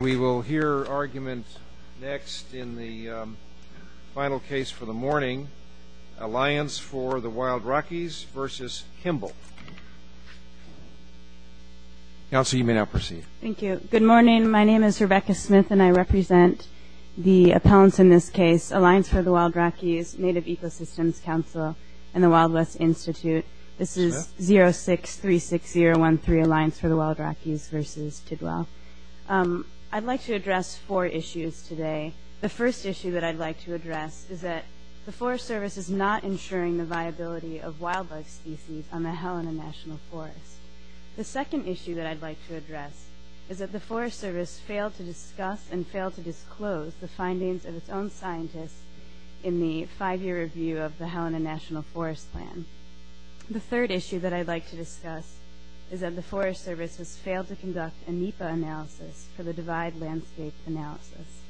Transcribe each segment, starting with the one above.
We will hear argument next in the final case for the morning, Alliance for the Wild Rockies v. Kimbell. Counsel, you may now proceed. Thank you. Good morning. My name is Rebecca Smith, and I represent the appellants in this case, Alliance for the Wild Rockies, Native Ecosystems Council, and the Wild West Institute. This is 0636013, Alliance for the Wild Rockies v. Kimbell. I'd like to address four issues today. The first issue that I'd like to address is that the Forest Service is not ensuring the viability of wildlife species on the Helena National Forest. The second issue that I'd like to address is that the Forest Service failed to discuss and fail to disclose the findings of its own scientists in the five-year review of the Helena National Forest Plan. The third issue that I'd like to discuss is that the Forest Service has failed to conduct a NEPA analysis for the divide landscape analysis.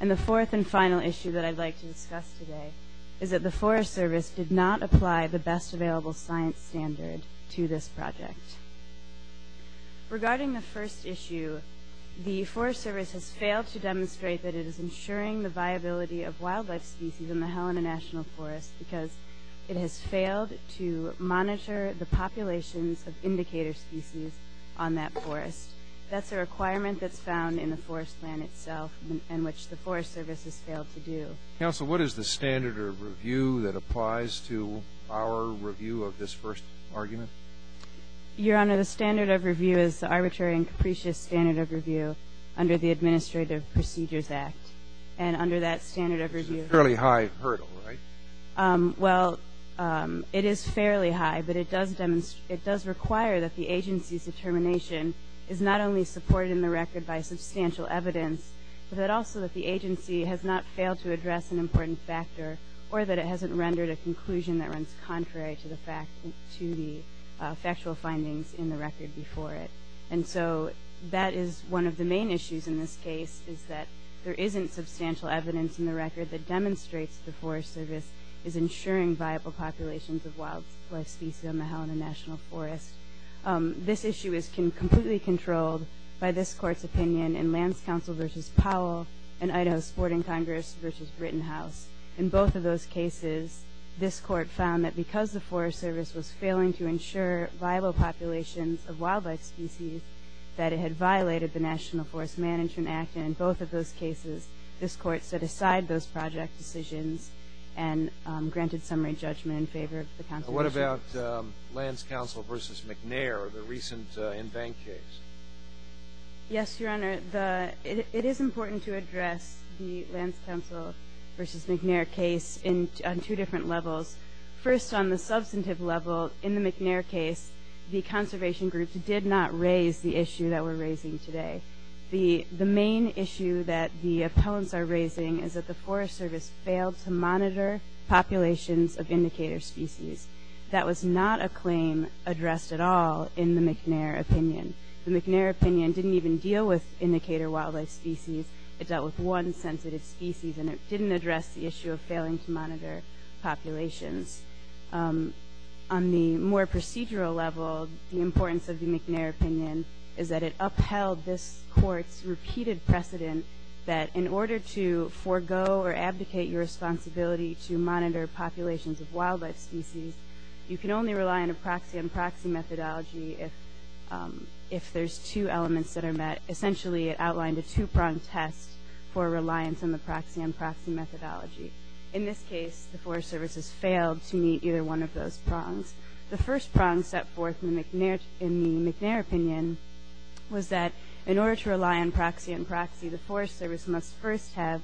And the fourth and final issue that I'd like to discuss today is that the Forest Service did not apply the best available science standard to this project. Regarding the first issue, the Forest Service has failed to demonstrate that it is ensuring the viability of wildlife species in the Helena National Forest because it has failed to monitor the populations of indicator species on that forest. That's a requirement that's found in the forest plan itself and which the Forest Service has failed to do. Counsel, what is the standard of review that applies to our review of this first argument? Your Honor, the standard of review is the arbitrary and capricious standard of review under the Administrative Procedures Act. And under that standard of review ---- It's a fairly high hurdle, right? Well, it is fairly high, but it does require that the agency's determination is not only supported in the record by substantial evidence, but that also that the agency has not failed to address an important factor or that it hasn't rendered a conclusion that runs contrary to the factual findings in the record before it. And so that is one of the main issues in this case is that there isn't substantial evidence in the record that demonstrates the Forest Service is ensuring viable populations of wildlife species on the Helena National Forest. This issue is completely controlled by this Court's opinion in Lands Council v. Powell and Idaho Sporting Congress v. Brittenhouse. In both of those cases, this Court found that because the Forest Service was failing to ensure viable populations of wildlife species, that it had violated the National Forest Management Act. And in both of those cases, this Court set aside those project decisions and granted summary judgment in favor of the Constitution. What about Lands Council v. McNair, the recent NVANC case? Yes, Your Honor. It is important to address the Lands Council v. McNair case on two different levels. First, on the substantive level, in the McNair case, the conservation group did not raise the issue that we're raising today. The main issue that the appellants are raising is that the Forest Service failed to monitor populations of indicator species. That was not a claim addressed at all in the McNair opinion. The McNair opinion didn't even deal with indicator wildlife species. It dealt with one sensitive species, and it didn't address the issue of failing to monitor populations. On the more procedural level, the importance of the McNair opinion is that it upheld this Court's You can only rely on a proxy-on-proxy methodology if there's two elements that are met. Essentially, it outlined a two-prong test for reliance on the proxy-on-proxy methodology. In this case, the Forest Service has failed to meet either one of those prongs. The first prong set forth in the McNair opinion was that in order to rely on proxy-on-proxy, the Forest Service must first have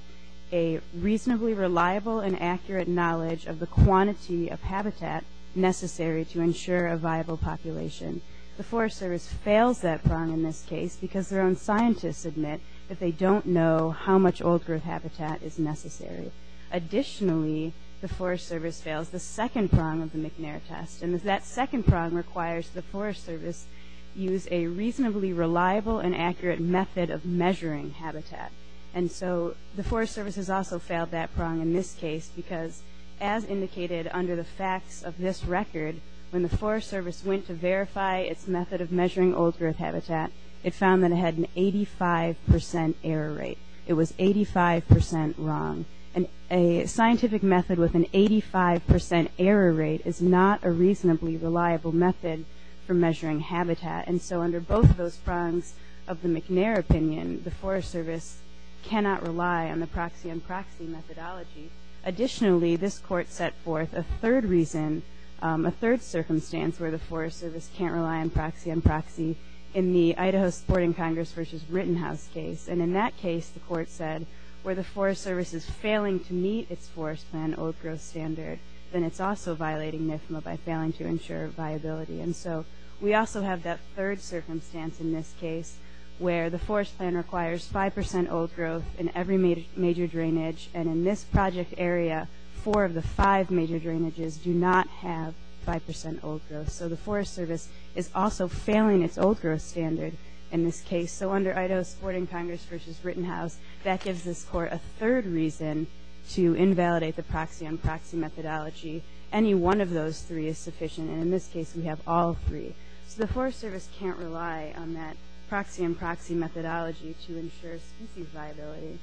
a reasonably reliable and accurate knowledge of the quantity of habitat necessary to ensure a viable population. The Forest Service fails that prong in this case because their own scientists admit that they don't know how much old-growth habitat is necessary. Additionally, the Forest Service fails the second prong of the McNair test, and that second prong requires the Forest Service use a reasonably reliable and accurate method of measuring habitat. And so the Forest Service has also failed that prong in this case because, as indicated under the facts of this record, when the Forest Service went to verify its method of measuring old-growth habitat, it found that it had an 85% error rate. It was 85% wrong. And a scientific method with an 85% error rate is not a reasonably reliable method for measuring habitat. And so under both of those prongs of the McNair opinion, the Forest Service cannot rely on the proxy-on-proxy methodology. Additionally, this court set forth a third reason, a third circumstance, where the Forest Service can't rely on proxy-on-proxy in the Idaho Sporting Congress v. Rittenhouse case. And in that case, the court said, where the Forest Service is failing to meet its Forest Plan old-growth standard, then it's also violating NFMA by failing to ensure viability. And so we also have that third circumstance in this case where the Forest Plan requires 5% old-growth in every major drainage. And in this project area, four of the five major drainages do not have 5% old-growth. So the Forest Service is also failing its old-growth standard in this case. So under Idaho Sporting Congress v. Rittenhouse, that gives this court a third reason to invalidate the proxy-on-proxy methodology. Any one of those three is sufficient. And in this case, we have all three. So the Forest Service can't rely on that proxy-on-proxy methodology to ensure species viability.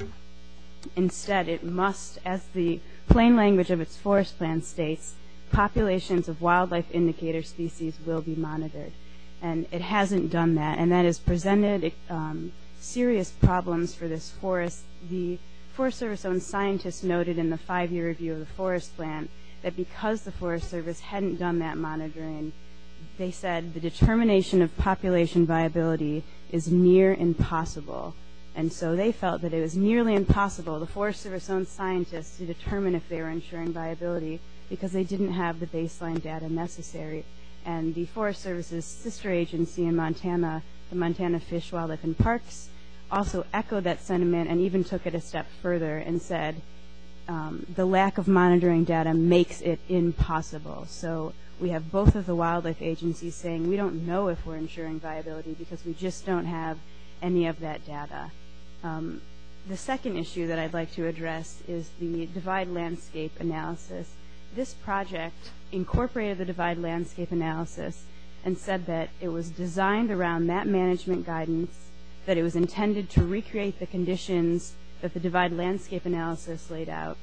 Instead, it must, as the plain language of its Forest Plan states, populations of wildlife indicator species will be monitored. And it hasn't done that, and that has presented serious problems for this forest. The Forest Service-owned scientists noted in the five-year review of the Forest Plan that because the Forest Service hadn't done that monitoring, they said the determination of population viability is near impossible. And so they felt that it was nearly impossible, the Forest Service-owned scientists, to determine if they were ensuring viability because they didn't have the baseline data necessary. And the Forest Service's sister agency in Montana, the Montana Fish, Wildlife, and Parks, also echoed that sentiment and even took it a step further and said the lack of monitoring data makes it impossible. So we have both of the wildlife agencies saying we don't know if we're ensuring viability because we just don't have any of that data. The second issue that I'd like to address is the divide landscape analysis. This project incorporated the divide landscape analysis and said that it was designed around that management guidance, that it was intended to recreate the conditions that the divide landscape analysis laid out,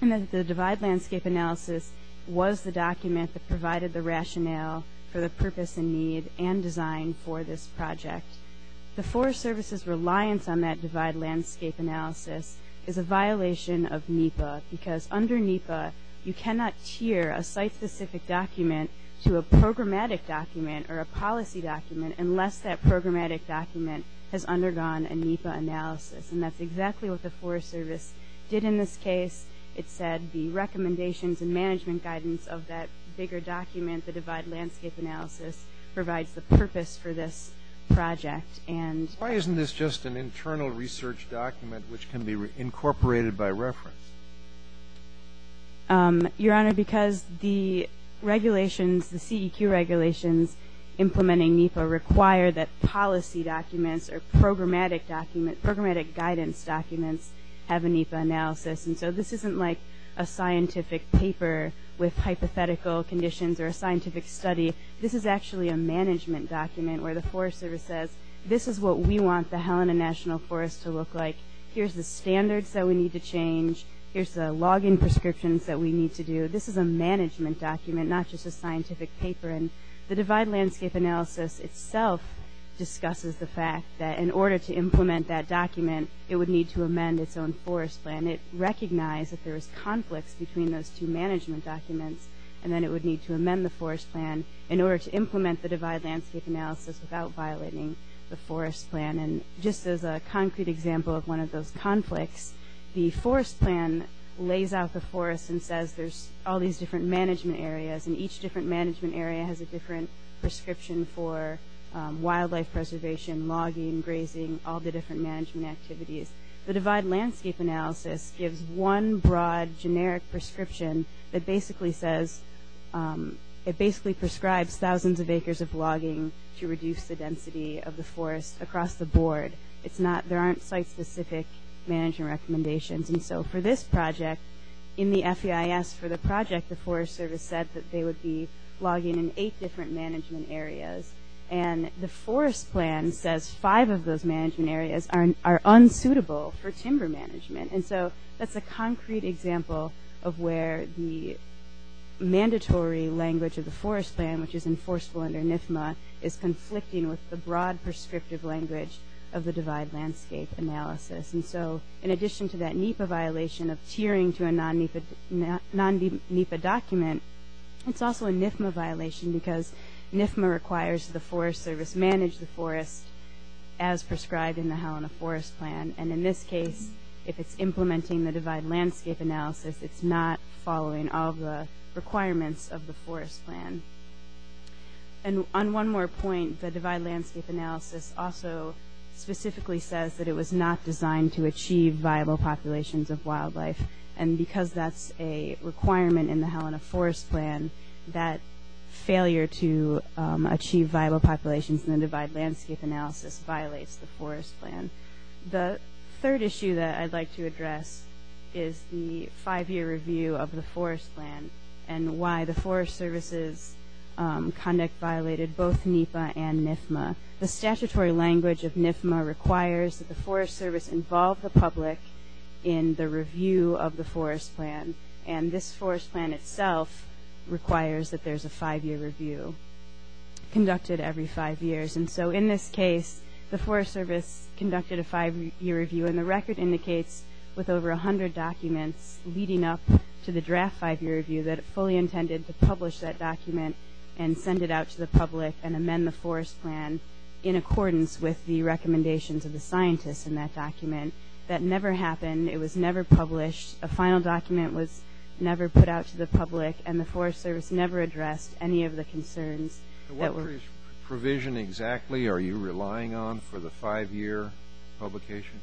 and that the divide landscape analysis was the document that provided the rationale for the purpose and need and design for this project. The Forest Service's reliance on that divide landscape analysis is a violation of NEPA because under NEPA you cannot tier a site-specific document to a programmatic document or a policy document unless that programmatic document has undergone a NEPA analysis. And that's exactly what the Forest Service did in this case. It said the recommendations and management guidance of that bigger document, the divide landscape analysis, provides the purpose for this project. Why isn't this just an internal research document which can be incorporated by reference? Your Honor, because the regulations, the CEQ regulations implementing NEPA require that policy documents or programmatic guidance documents have a NEPA analysis. And so this isn't like a scientific paper with hypothetical conditions or a scientific study. This is actually a management document where the Forest Service says, this is what we want the Helena National Forest to look like. Here's the standards that we need to change. Here's the log-in prescriptions that we need to do. This is a management document, not just a scientific paper. And the divide landscape analysis itself discusses the fact that in order to implement that document, it would need to amend its own forest plan. It recognized that there was conflicts between those two management documents, and then it would need to amend the forest plan in order to implement the divide landscape analysis without violating the forest plan. And just as a concrete example of one of those conflicts, the forest plan lays out the forest and says there's all these different management areas, and each different management area has a different prescription for wildlife preservation, logging, grazing, all the different management activities. The divide landscape analysis gives one broad generic prescription that basically says, it basically prescribes thousands of acres of logging to reduce the density of the forest across the board. There aren't site-specific management recommendations. And so for this project, in the FEIS for the project, the Forest Service said that they would be logging in eight different management areas. And the forest plan says five of those management areas are unsuitable for timber management. And so that's a concrete example of where the mandatory language of the forest plan, which is enforceable under NIFMA, is conflicting with the broad prescriptive language of the divide landscape analysis. And so in addition to that NEPA violation of tiering to a non-NEPA document, it's also a NIFMA violation because NIFMA requires the Forest Service manage the forest as prescribed in the Helena Forest Plan. And in this case, if it's implementing the divide landscape analysis, it's not following all the requirements of the forest plan. And on one more point, the divide landscape analysis also specifically says that it was not designed to achieve viable populations of wildlife. And because that's a requirement in the Helena Forest Plan, that failure to achieve viable populations in the divide landscape analysis violates the forest plan. The third issue that I'd like to address is the five-year review of the forest plan and why the Forest Service's conduct violated both NEPA and NIFMA. The statutory language of NIFMA requires that the Forest Service involve the public in the review of the forest plan. And this forest plan itself requires that there's a five-year review conducted every five years. And so in this case, the Forest Service conducted a five-year review, and the record indicates with over 100 documents leading up to the draft five-year review that it fully intended to publish that document and send it out to the public and amend the forest plan in accordance with the recommendations of the scientists in that document. That never happened. It was never published. A final document was never put out to the public, and the Forest Service never addressed any of the concerns that were... What provision exactly are you relying on for the five-year publication?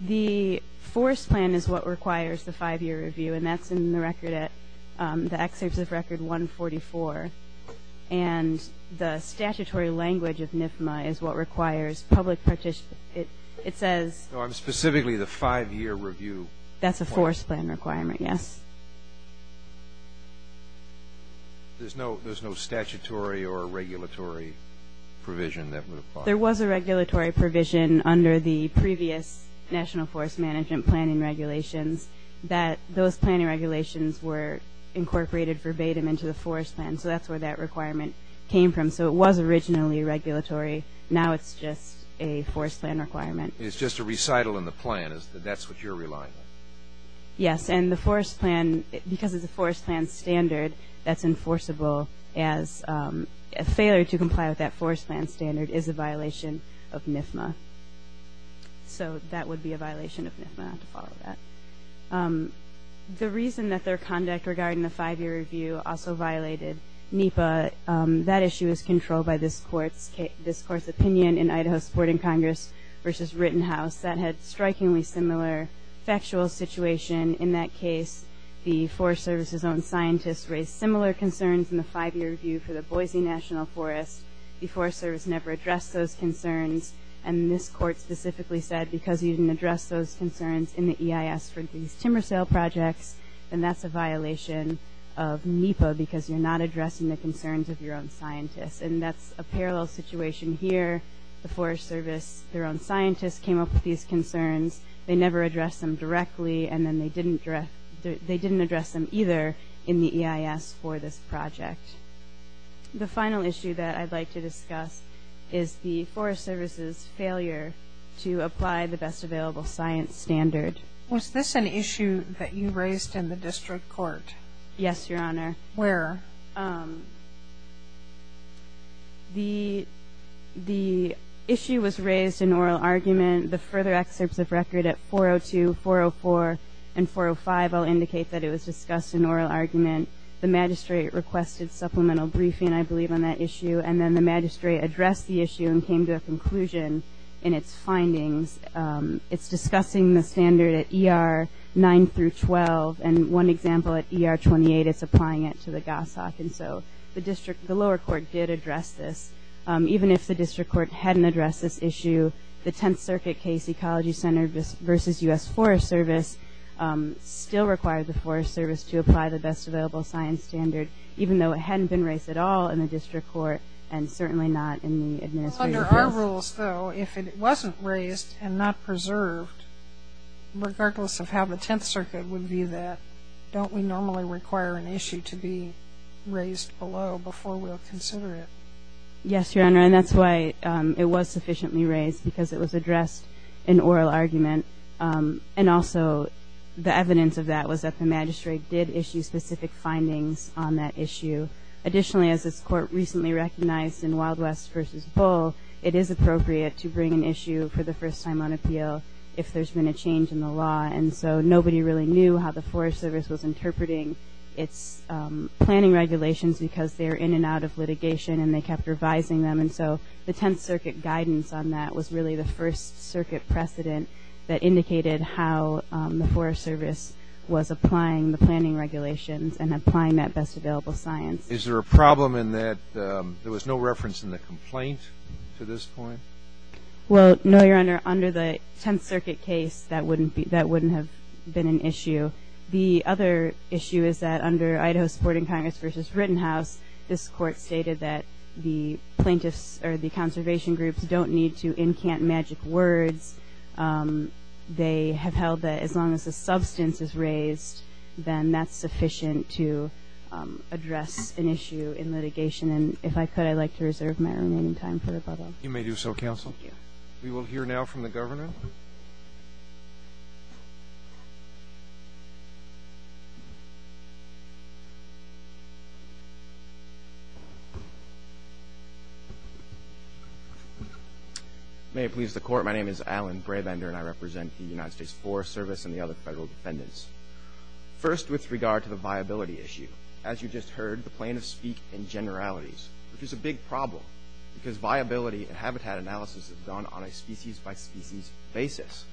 The forest plan is what requires the five-year review, and that's in the record at the excerpts of Record 144. And the statutory language of NIFMA is what requires public participation. It says... No, I'm specifically the five-year review. That's a forest plan requirement, yes. There's no statutory or regulatory provision that would apply? There was a regulatory provision under the previous National Forest Management Planning regulations that those planning regulations were incorporated verbatim into the forest plan, so that's where that requirement came from. So it was originally regulatory. Now it's just a forest plan requirement. It's just a recital in the plan. That's what you're relying on? Yes, and the forest plan, because it's a forest plan standard, that's enforceable as... A failure to comply with that forest plan standard is a violation of NIFMA. So that would be a violation of NIFMA not to follow that. The reason that their conduct regarding the five-year review also violated NEPA, that issue is controlled by this Court's opinion in Idaho Supporting Congress v. Rittenhouse that had a strikingly similar factual situation. In that case, the Forest Service's own scientists raised similar concerns in the five-year review for the Boise National Forest. The Forest Service never addressed those concerns, and this Court specifically said because you didn't address those concerns in the EIS for these timber sale projects, then that's a violation of NEPA because you're not addressing the concerns of your own scientists, and that's a parallel situation here. The Forest Service, their own scientists, came up with these concerns. They never addressed them directly, and then they didn't address them either in the EIS for this project. The final issue that I'd like to discuss is the Forest Service's failure to apply the best available science standard. Was this an issue that you raised in the district court? Yes, Your Honor. Where? The issue was raised in oral argument. The further excerpts of record at 402, 404, and 405 all indicate that it was discussed in oral argument. The magistrate requested supplemental briefing, I believe, on that issue, and then the magistrate addressed the issue and came to a conclusion in its findings. It's discussing the standard at ER 9 through 12, and one example at ER 28 is applying it to the Gossack, and so the lower court did address this. Even if the district court hadn't addressed this issue, the Tenth Circuit Case Ecology Center versus U.S. Forest Service still required the Forest Service to apply the best available science standard, even though it hadn't been raised at all in the district court and certainly not in the administrative court. Under our rules, though, if it wasn't raised and not preserved, regardless of how the Tenth Circuit would view that, don't we normally require an issue to be raised below before we'll consider it? Yes, Your Honor, and that's why it was sufficiently raised, because it was addressed in oral argument, and also the evidence of that was that the magistrate did issue specific findings on that issue. Additionally, as this Court recently recognized in Wild West v. Bull, it is appropriate to bring an issue for the first time on appeal if there's been a change in the law, and so nobody really knew how the Forest Service was interpreting its planning regulations because they were in and out of litigation and they kept revising them, and so the Tenth Circuit guidance on that was really the First Circuit precedent that indicated how the Forest Service was applying the planning regulations and applying that best available science. Is there a problem in that there was no reference in the complaint to this point? Well, no, Your Honor. Under the Tenth Circuit case, that wouldn't have been an issue. The other issue is that under Idaho Supporting Congress v. Rittenhouse, this Court stated that the plaintiffs or the conservation groups don't need to incant magic words. They have held that as long as the substance is raised, then that's sufficient to address an issue in litigation, and if I could, I'd like to reserve my remaining time for rebuttal. You may do so, Counsel. Thank you. We will hear now from the Governor. May it please the Court, my name is Alan Brabender, and I represent the United States Forest Service and the other Federal defendants. First, with regard to the viability issue, as you just heard, the plaintiffs speak in generalities, which is a big problem because viability and habitat analysis is done on a species-by-species basis.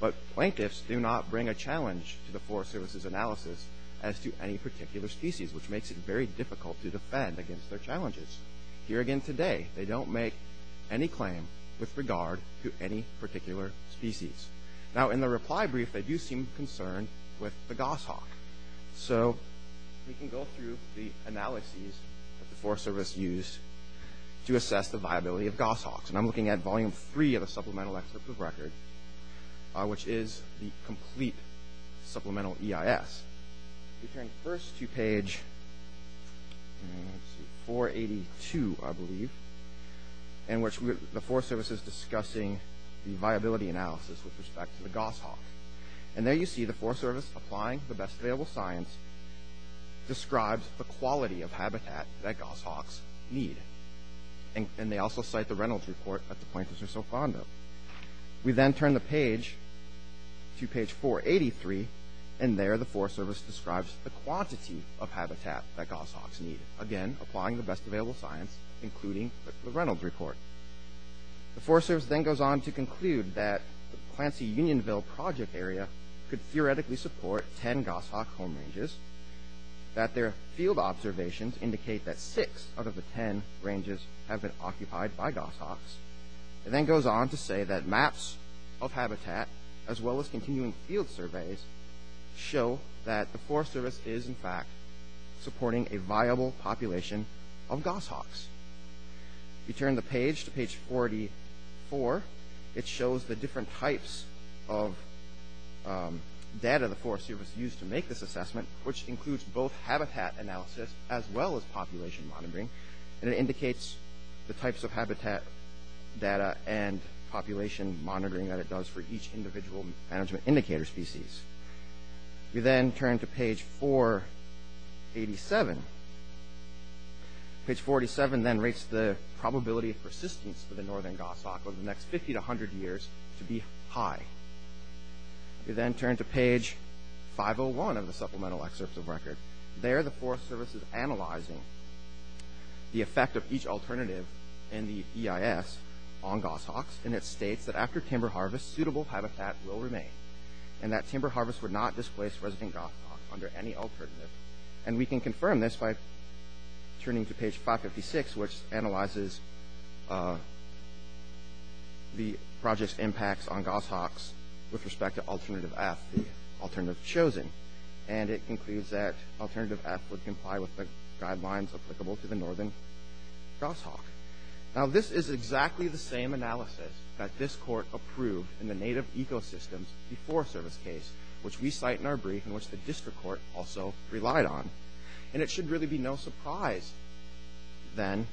But plaintiffs do not bring a challenge to the Forest Service's analysis as to any particular species, which makes it very difficult to defend against their challenges. Here again today, they don't make any claim with regard to any particular species. Now, in the reply brief, they do seem concerned with the goshawk. So we can go through the analyses that the Forest Service used to assess the viability of goshawks, and I'm looking at Volume 3 of the Supplemental Excerpt of Record, which is the complete supplemental EIS. We turn first to page 482, I believe, in which the Forest Service is discussing the viability analysis with respect to the goshawk. And there you see the Forest Service applying the best available science, describes the quality of habitat that goshawks need. And they also cite the Reynolds Report that the plaintiffs are so fond of. We then turn the page to page 483, and there the Forest Service describes the quantity of habitat that goshawks need. Again, applying the best available science, including the Reynolds Report. The Forest Service then goes on to conclude that the Clancy-Unionville project area could theoretically support 10 goshawk home ranges, that their field observations indicate that 6 out of the 10 ranges have been occupied by goshawks. It then goes on to say that maps of habitat, as well as continuing field surveys, show that the Forest Service is, in fact, supporting a viable population of goshawks. We turn the page to page 44. It shows the different types of data the Forest Service used to make this assessment, which includes both habitat analysis as well as population monitoring. And it indicates the types of habitat data and population monitoring that it does for each individual management indicator species. We then turn to page 487. Page 487 then rates the probability of persistence for the northern goshawk over the next 50 to 100 years to be high. We then turn to page 501 of the supplemental excerpts of record. There the Forest Service is analyzing the effect of each alternative in the EIS on goshawks, and it states that after timber harvest, suitable habitat will remain, and that timber harvest would not displace resident goshawks under any alternative. And we can confirm this by turning to page 556, which analyzes the project's impacts on goshawks with respect to Alternative F, the alternative chosen. And it concludes that Alternative F would comply with the guidelines applicable to the northern goshawk. Now, this is exactly the same analysis that this court approved in the Native Ecosystems which we cite in our brief and which the district court also relied on. And it should really be no surprise then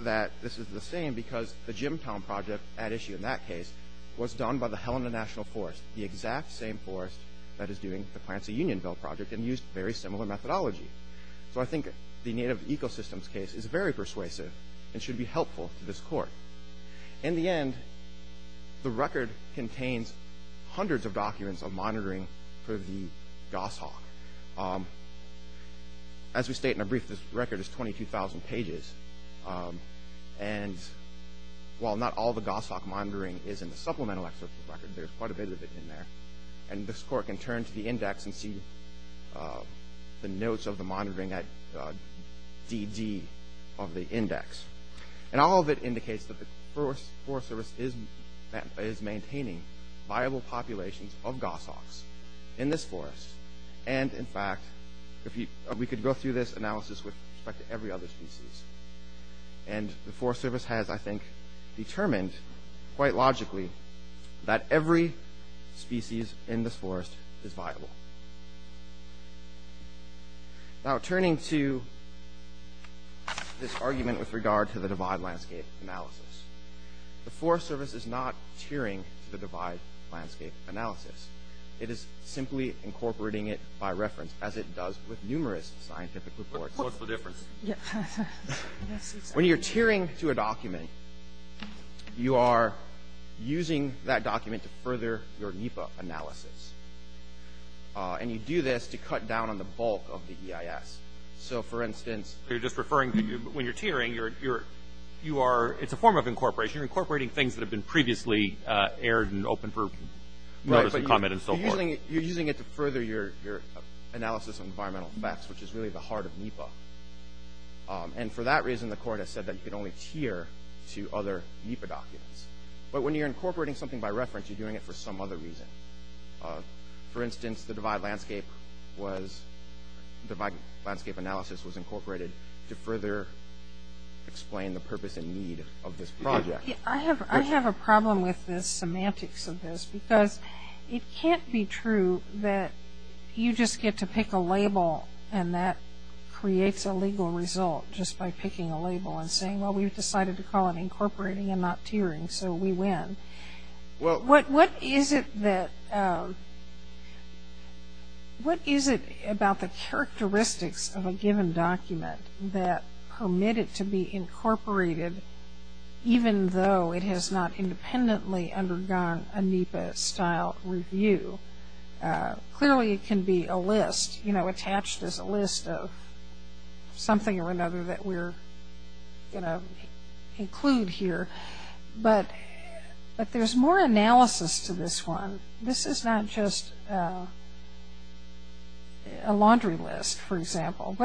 that this is the same because the Jimtown Project at issue in that case was done by the Helena National Forest, the exact same forest that is doing the Plancy Unionville Project and used very similar methodology. So I think the Native Ecosystems case is very persuasive and should be helpful to this court. In the end, the record contains hundreds of documents of monitoring for the goshawk. As we state in our brief, this record is 22,000 pages. And while not all the goshawk monitoring is in the supplemental excerpt of the record, there's quite a bit of it in there. And this court can turn to the index and see the notes of the monitoring at DD of the index. And all of it indicates that the Forest Service is maintaining viable populations of goshawks in this forest. And, in fact, we could go through this analysis with respect to every other species. And the Forest Service has, I think, determined quite logically that every species in this forest is viable. Now, turning to this argument with regard to the divide landscape analysis, the Forest Service is not tiering to the divide landscape analysis. It is simply incorporating it by reference, as it does with numerous scientific reports. What's the difference? When you're tiering to a document, you are using that document to further your NEPA analysis. And you do this to cut down on the bulk of the EIS. So, for instance, you're just referring to when you're tiering, it's a form of incorporation. You're incorporating things that have been previously aired and open for notice and comment and so forth. You're using it to further your analysis of environmental effects, which is really the heart of NEPA. And for that reason, the court has said that you can only tier to other NEPA documents. But when you're incorporating something by reference, you're doing it for some other reason. For instance, the divide landscape analysis was incorporated to further explain the purpose and need of this project. I have a problem with the semantics of this, because it can't be true that you just get to pick a label, and that creates a legal result just by picking a label and saying, well, we've decided to call it incorporating and not tiering, so we win. What is it about the characteristics of a given document that permit it to be incorporated, even though it has not independently undergone a NEPA-style review? Clearly it can be a list, you know, attached as a list of something or another that we're going to include here. But there's more analysis to this one. This is not just a laundry list, for example.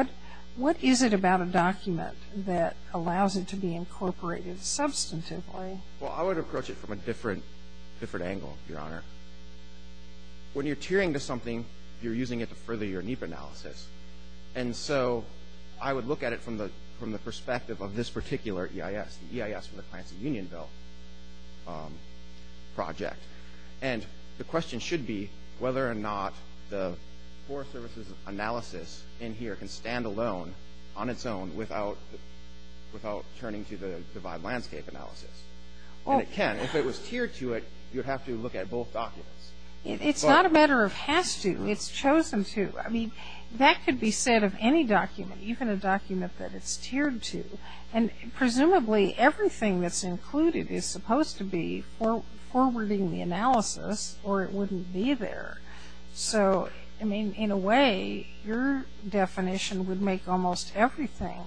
What is it about a document that allows it to be incorporated substantively? Well, I would approach it from a different angle, Your Honor. When you're tiering to something, you're using it to further your NEPA analysis. And so I would look at it from the perspective of this particular EIS, the EIS for the Plants and Union Bill project. And the question should be whether or not the Forest Services analysis in here can stand alone on its own without turning to the Divide Landscape analysis. And it can. If it was tiered to it, you'd have to look at both documents. It's not a matter of has to. It's chosen to. I mean, that could be said of any document, even a document that it's tiered to. And presumably everything that's included is supposed to be forwarding the analysis, or it wouldn't be there. So, I mean, in a way, your definition would make almost everything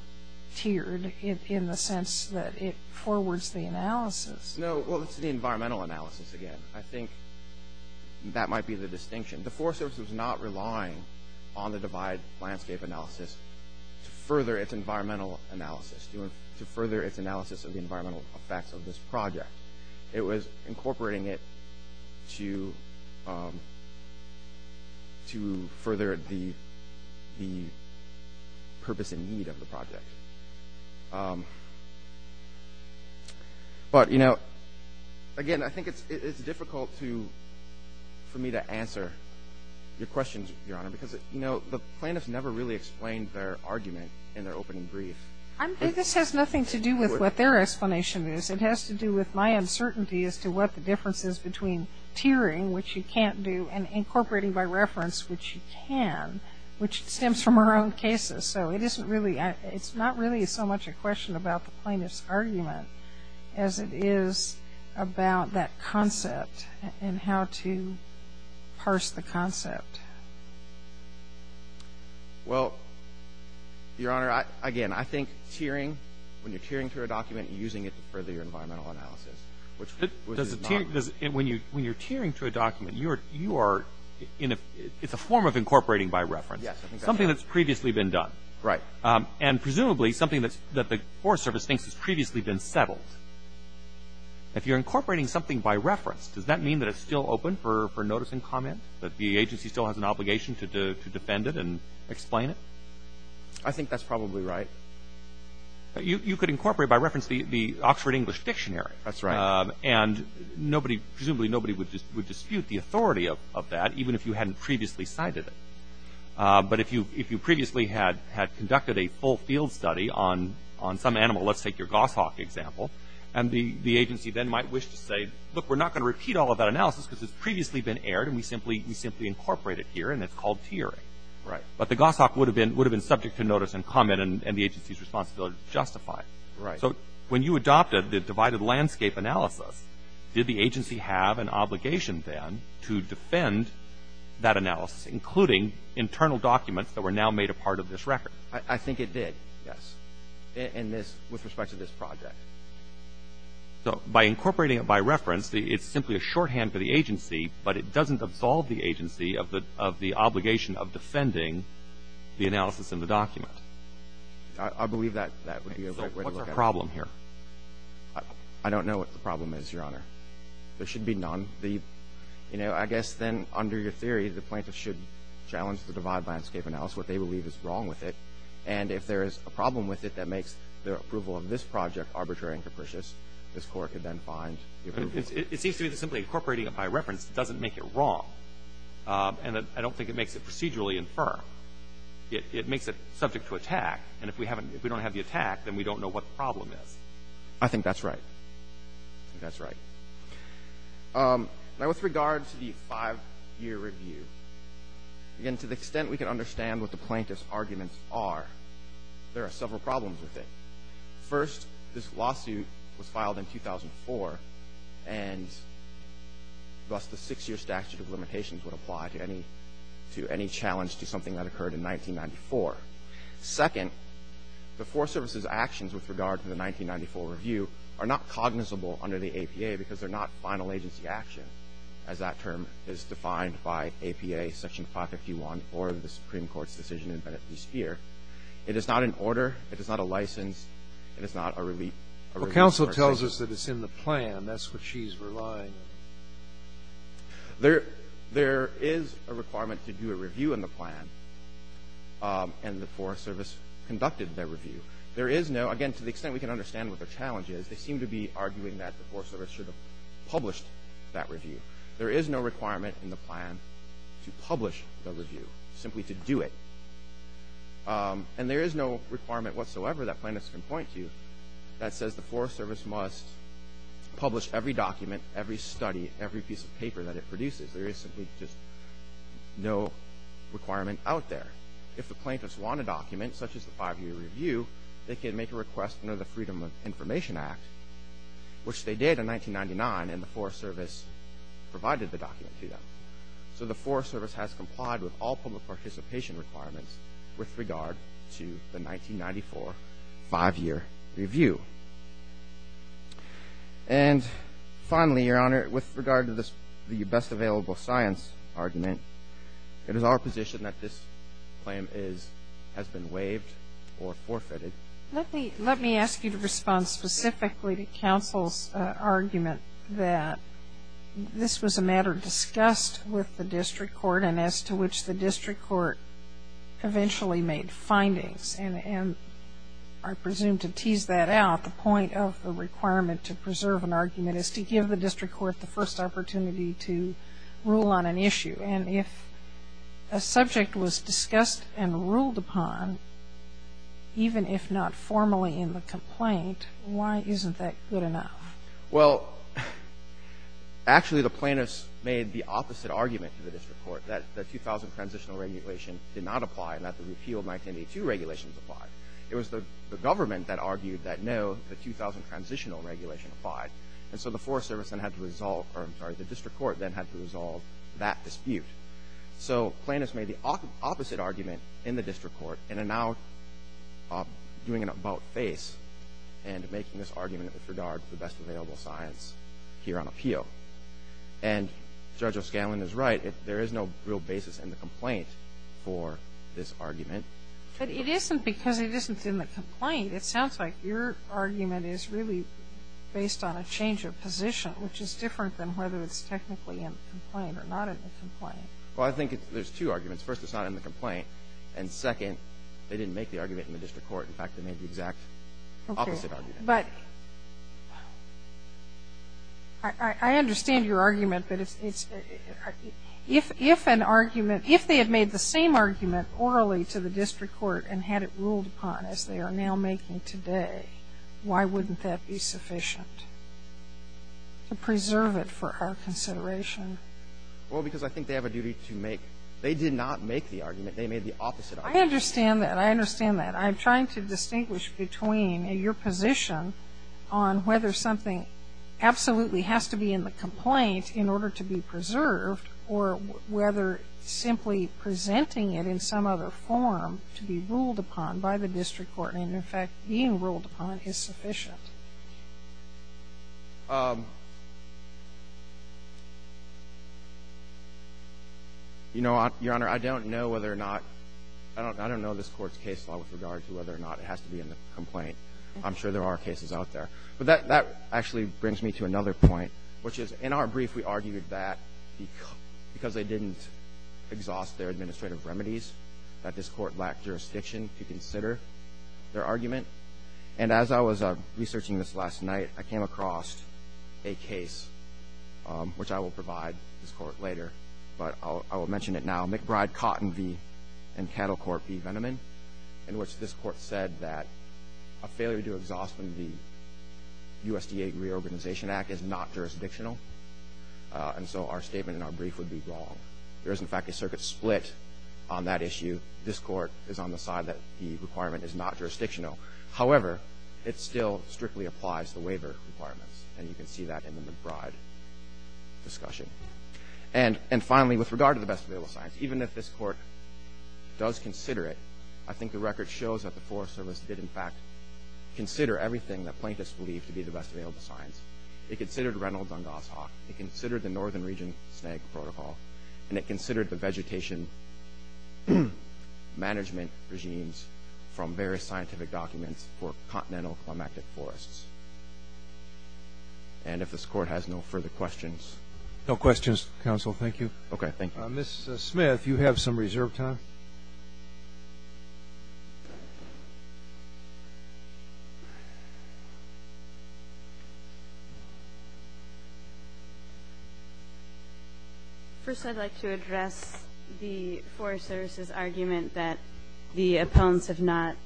tiered in the sense that it forwards the analysis. No, well, it's the environmental analysis again. I think that might be the distinction. The Forest Service was not relying on the Divide Landscape analysis to further its environmental analysis, to further its analysis of the environmental effects of this project. It was incorporating it to further the purpose and need of the project. But, you know, again, I think it's difficult for me to answer your questions, Your Honor, because, you know, the plaintiffs never really explained their argument in their opening brief. This has nothing to do with what their explanation is. It has to do with my uncertainty as to what the difference is between tiering, which you can't do, and incorporating by reference, which you can, which stems from our own cases. So it isn't really – it's not really so much a question about the plaintiff's argument as it is about that concept and how to parse the concept. Well, Your Honor, again, I think tiering, when you're tiering through a document, you're using it to further your environmental analysis, which is not – When you're tiering through a document, you are – it's a form of incorporating by reference. Yes, I think that's right. Something that's previously been done. Right. And presumably something that the Forest Service thinks has previously been settled. If you're incorporating something by reference, does that mean that it's still open for notice and comment, that the agency still has an obligation to defend it and explain it? I think that's probably right. You could incorporate by reference the Oxford English Dictionary. That's right. And nobody – presumably nobody would dispute the authority of that, even if you hadn't previously cited it. But if you previously had conducted a full field study on some animal, let's take your goshawk example, and the agency then might wish to say, look, we're not going to repeat all of that analysis because it's previously been aired and we simply incorporate it here and it's called tiering. Right. But the goshawk would have been subject to notice and comment and the agency's responsibility to justify it. Right. So when you adopted the divided landscape analysis, did the agency have an obligation then to defend that analysis, including internal documents that were now made a part of this record? I think it did. Yes. In this – with respect to this project. So by incorporating it by reference, it's simply a shorthand for the agency, but it doesn't absolve the agency of the obligation of defending the analysis in the document. I believe that would be a good way to look at it. So what's our problem here? I don't know what the problem is, Your Honor. There should be none. You know, I guess then under your theory, the plaintiff should challenge the divided landscape analysis, what they believe is wrong with it. And if there is a problem with it that makes their approval of this project arbitrary and capricious, this Court could then find different reasons. It seems to me that simply incorporating it by reference doesn't make it wrong. And I don't think it makes it procedurally infirm. It makes it subject to attack. And if we don't have the attack, then we don't know what the problem is. I think that's right. I think that's right. Now, with regard to the five-year review, again, to the extent we can understand what the plaintiff's arguments are, there are several problems with it. First, this lawsuit was filed in 2004, and thus the six-year statute of limitations would apply to any challenge to something that occurred in 1994. Second, the Forest Service's actions with regard to the 1994 review are not cognizable under the APA because they're not final agency action, as that term is defined by APA Section 551 or the Supreme Court's decision in Bennett v. Speer. It is not an order. It is not a license. It is not a relief. Sotomayor, counsel tells us that it's in the plan. That's what she's relying on. There is a requirement to do a review in the plan, and the Forest Service conducted their review. There is no – again, to the extent we can understand what their challenge is, they seem to be arguing that the Forest Service should have published that review. There is no requirement in the plan to publish the review, simply to do it. And there is no requirement whatsoever that plaintiffs can point to that says the Forest Service must publish every document, every study, every piece of paper that it produces. There is simply just no requirement out there. If the plaintiffs want a document, such as the five-year review, they can make a request under the Freedom of Information Act, which they did in 1999, and the Forest Service provided the document to them. So the Forest Service has complied with all public participation requirements with regard to the 1994 five-year review. And finally, Your Honor, with regard to the best available science argument, it is our position that this claim has been waived or forfeited. Let me ask you to respond specifically to counsel's argument that this was a matter discussed with the district court and as to which the district court eventually made findings. And I presume to tease that out, the point of the requirement to preserve an argument is to give the district court the first opportunity to rule on an issue. And if a subject was discussed and ruled upon, even if not formally in the complaint, why isn't that good enough? Well, actually the plaintiffs made the opposite argument to the district court, that the 2000 transitional regulation did not apply and that the repealed 1982 regulations applied. It was the government that argued that no, the 2000 transitional regulation applied. And so the Forest Service then had to resolve or, I'm sorry, the district court then had to resolve that dispute. So plaintiffs made the opposite argument in the district court and are now doing an argument with regard to the best available science here on appeal. And Judge O'Scanlan is right. There is no real basis in the complaint for this argument. But it isn't because it isn't in the complaint. It sounds like your argument is really based on a change of position, which is different than whether it's technically in the complaint or not in the complaint. Well, I think there's two arguments. First, it's not in the complaint. And second, they didn't make the argument in the district court. In fact, they made the exact opposite argument. Okay. But I understand your argument, but if an argument, if they had made the same argument orally to the district court and had it ruled upon as they are now making today, why wouldn't that be sufficient to preserve it for our consideration? Well, because I think they have a duty to make, they did not make the argument. They made the opposite argument. I understand that. I understand that. I'm trying to distinguish between your position on whether something absolutely has to be in the complaint in order to be preserved or whether simply presenting it in some other form to be ruled upon by the district court and, in fact, being ruled upon is sufficient. You know, Your Honor, I don't know whether or not, I don't know this Court's case law with regard to whether or not it has to be in the complaint. I'm sure there are cases out there. But that actually brings me to another point, which is, in our brief, we argued that because they didn't exhaust their administrative remedies, that this Court lacked jurisdiction to consider their argument. And as I was researching this last night, I came across a case, which I will provide this Court later, but I will mention it now, McBride-Cotton v. Cattlecourt v. Venneman, in which this Court said that a failure to exhaust the USDA Reorganization Act is not jurisdictional. And so our statement in our brief would be wrong. There is, in fact, a circuit split on that issue. This Court is on the side that the requirement is not jurisdictional. However, it still strictly applies the waiver requirements, and you can see that in the McBride discussion. And finally, with regard to the best available science, even if this Court does consider it, I think the record shows that the Forest Service did, in fact, consider everything that plaintiffs believed to be the best available science. It considered Reynolds-Dungas-Hawk. It considered the Northern Region SNAG protocol. And it considered the vegetation management regimes from various scientific documents for continental climactic forests. And if this Court has no further questions. No questions, Counsel. Thank you. Okay, thank you. Ms. Smith, you have some reserved time. First, I'd like to address the Forest Service's argument that the appellants have not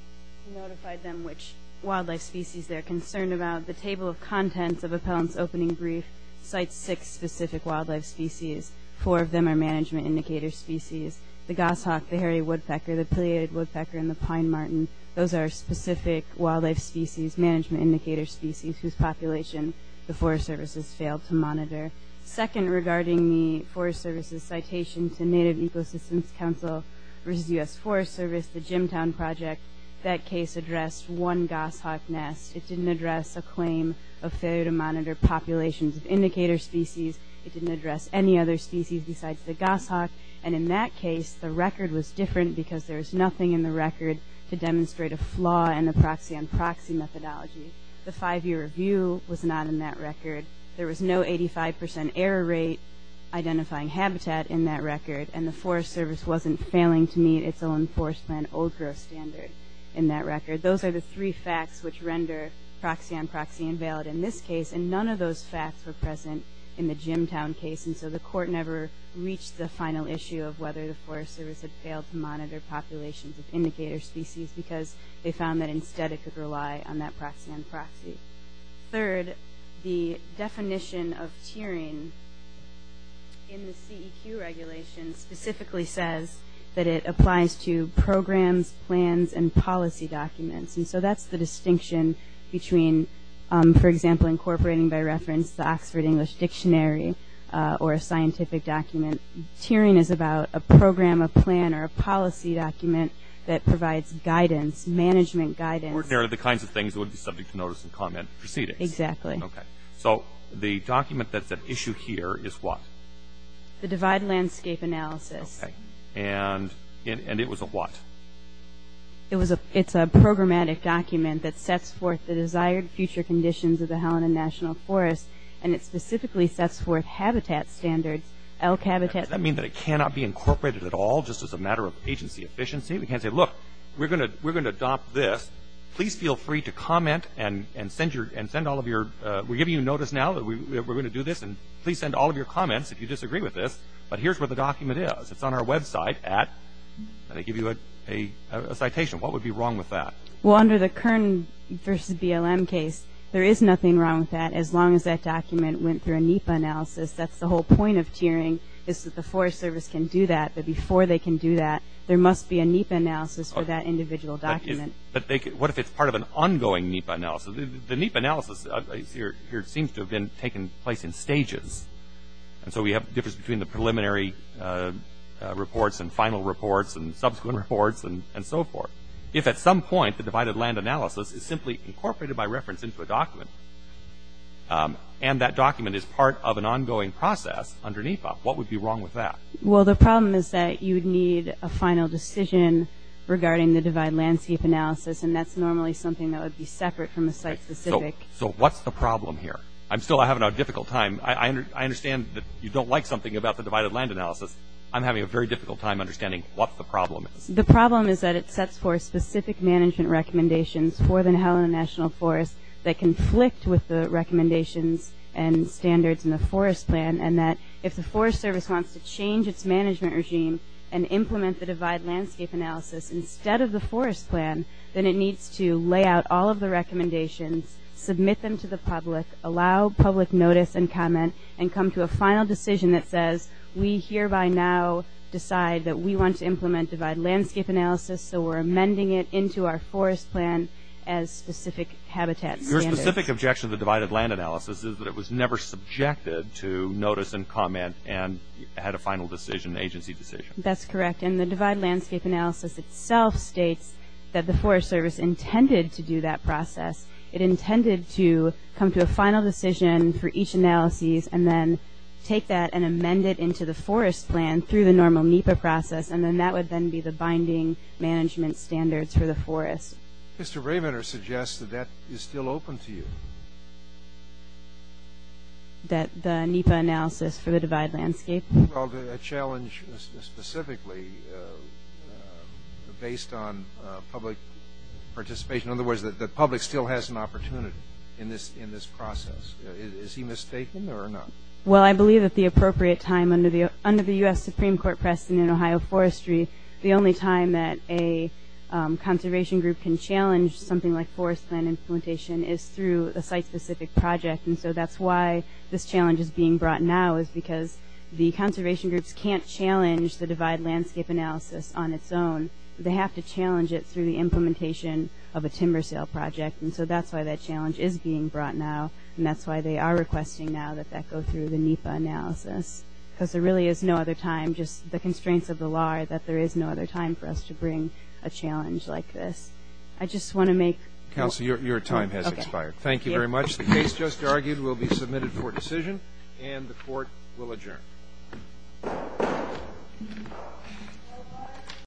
notified them which wildlife species they're concerned about. The Table of Contents of Appellants' Opening Brief cites six specific wildlife species. Four of them are management indicator species. The goshawk, the hairy woodpecker, the pileated woodpecker, and the pine marten. Those are specific wildlife species, management indicator species, whose population the Forest Service has failed to monitor. Second, regarding the Forest Service's citation to Native Ecosystems Council versus U.S. Forest Service, the Jimtown Project, that case addressed one goshawk nest. It didn't address a claim of failure to monitor populations of indicator species. It didn't address any other species besides the goshawk. And in that case, the record was different because there was nothing in the record to demonstrate a flaw in the proxy-on-proxy methodology. The five-year review was not in that record. There was no 85% error rate identifying habitat in that record, and the Forest Service wasn't failing to meet its own Forest Plan old-growth standard in that record. Those are the three facts which render proxy-on-proxy invalid in this case, and none of those facts were present in the Jimtown case, and so the court never reached the final issue of whether the Forest Service had failed to monitor populations of indicator species because they found that instead it could rely on that proxy-on-proxy. Third, the definition of tiering in the CEQ regulation specifically says that it applies to programs, plans, and policy documents, and so that's the distinction between, for example, incorporating, by reference, the Oxford English Dictionary or a scientific document. Tiering is about a program, a plan, or a policy document that provides guidance, management guidance. Ordinarily the kinds of things that would be subject to notice and comment proceedings. Exactly. Okay. So the document that's at issue here is what? The divide landscape analysis. Okay. And it was a what? It's a programmatic document that sets forth the desired future conditions of the Helena National Forest, and it specifically sets forth habitat standards, elk habitat standards. Does that mean that it cannot be incorporated at all just as a matter of agency efficiency? We can't say, look, we're going to adopt this. Please feel free to comment and send all of your – we're giving you notice now that we're going to do this, and please send all of your comments if you disagree with this. But here's where the document is. It's on our website at – let me give you a citation. What would be wrong with that? Well, under the Kern versus BLM case, there is nothing wrong with that as long as that document went through a NEPA analysis. That's the whole point of tiering is that the Forest Service can do that, but before they can do that, there must be a NEPA analysis for that individual document. But what if it's part of an ongoing NEPA analysis? The NEPA analysis here seems to have been taking place in stages. And so we have a difference between the preliminary reports and final reports and subsequent reports and so forth. If at some point the divided land analysis is simply incorporated by reference into a document, and that document is part of an ongoing process under NEPA, what would be wrong with that? Well, the problem is that you would need a final decision regarding the divided landscape analysis, and that's normally something that would be separate from the site-specific. So what's the problem here? I'm still having a difficult time. I understand that you don't like something about the divided land analysis. I'm having a very difficult time understanding what the problem is. The problem is that it sets forth specific management recommendations for the NLF that conflict with the recommendations and standards in the Forest Plan, and that if the Forest Service wants to change its management regime and implement the divided landscape analysis instead of the Forest Plan, then it needs to lay out all of the recommendations, submit them to the public, allow public notice and comment, and come to a final decision that says, we hereby now decide that we want to implement divided landscape analysis, so we're amending it into our Forest Plan as specific habitat standards. Your specific objection to the divided land analysis is that it was never subjected to notice and comment and had a final decision, agency decision. That's correct, and the divided landscape analysis itself states that the Forest Service intended to do that process. It intended to come to a final decision for each analysis and then take that and amend it into the Forest Plan through the normal NEPA process, and then that would then be the binding management standards for the forest. Mr. Bravener suggests that that is still open to you. That the NEPA analysis for the divided landscape? Well, a challenge specifically based on public participation. In other words, the public still has an opportunity in this process. Is he mistaken or not? Well, I believe at the appropriate time under the U.S. Supreme Court precedent in Ohio forestry, the only time that a conservation group can challenge something like forest plan implementation is through a site-specific project, and so that's why this challenge is being brought now, is because the conservation groups can't challenge the divided landscape analysis on its own. They have to challenge it through the implementation of a timber sale project, and so that's why that challenge is being brought now, and that's why they are requesting now that that go through the NEPA analysis, because there really is no other time. Just the constraints of the law are that there is no other time for us to bring a challenge like this. I just want to make... Counsel, your time has expired. Thank you very much. The case just argued will be submitted for decision, and the Court will adjourn.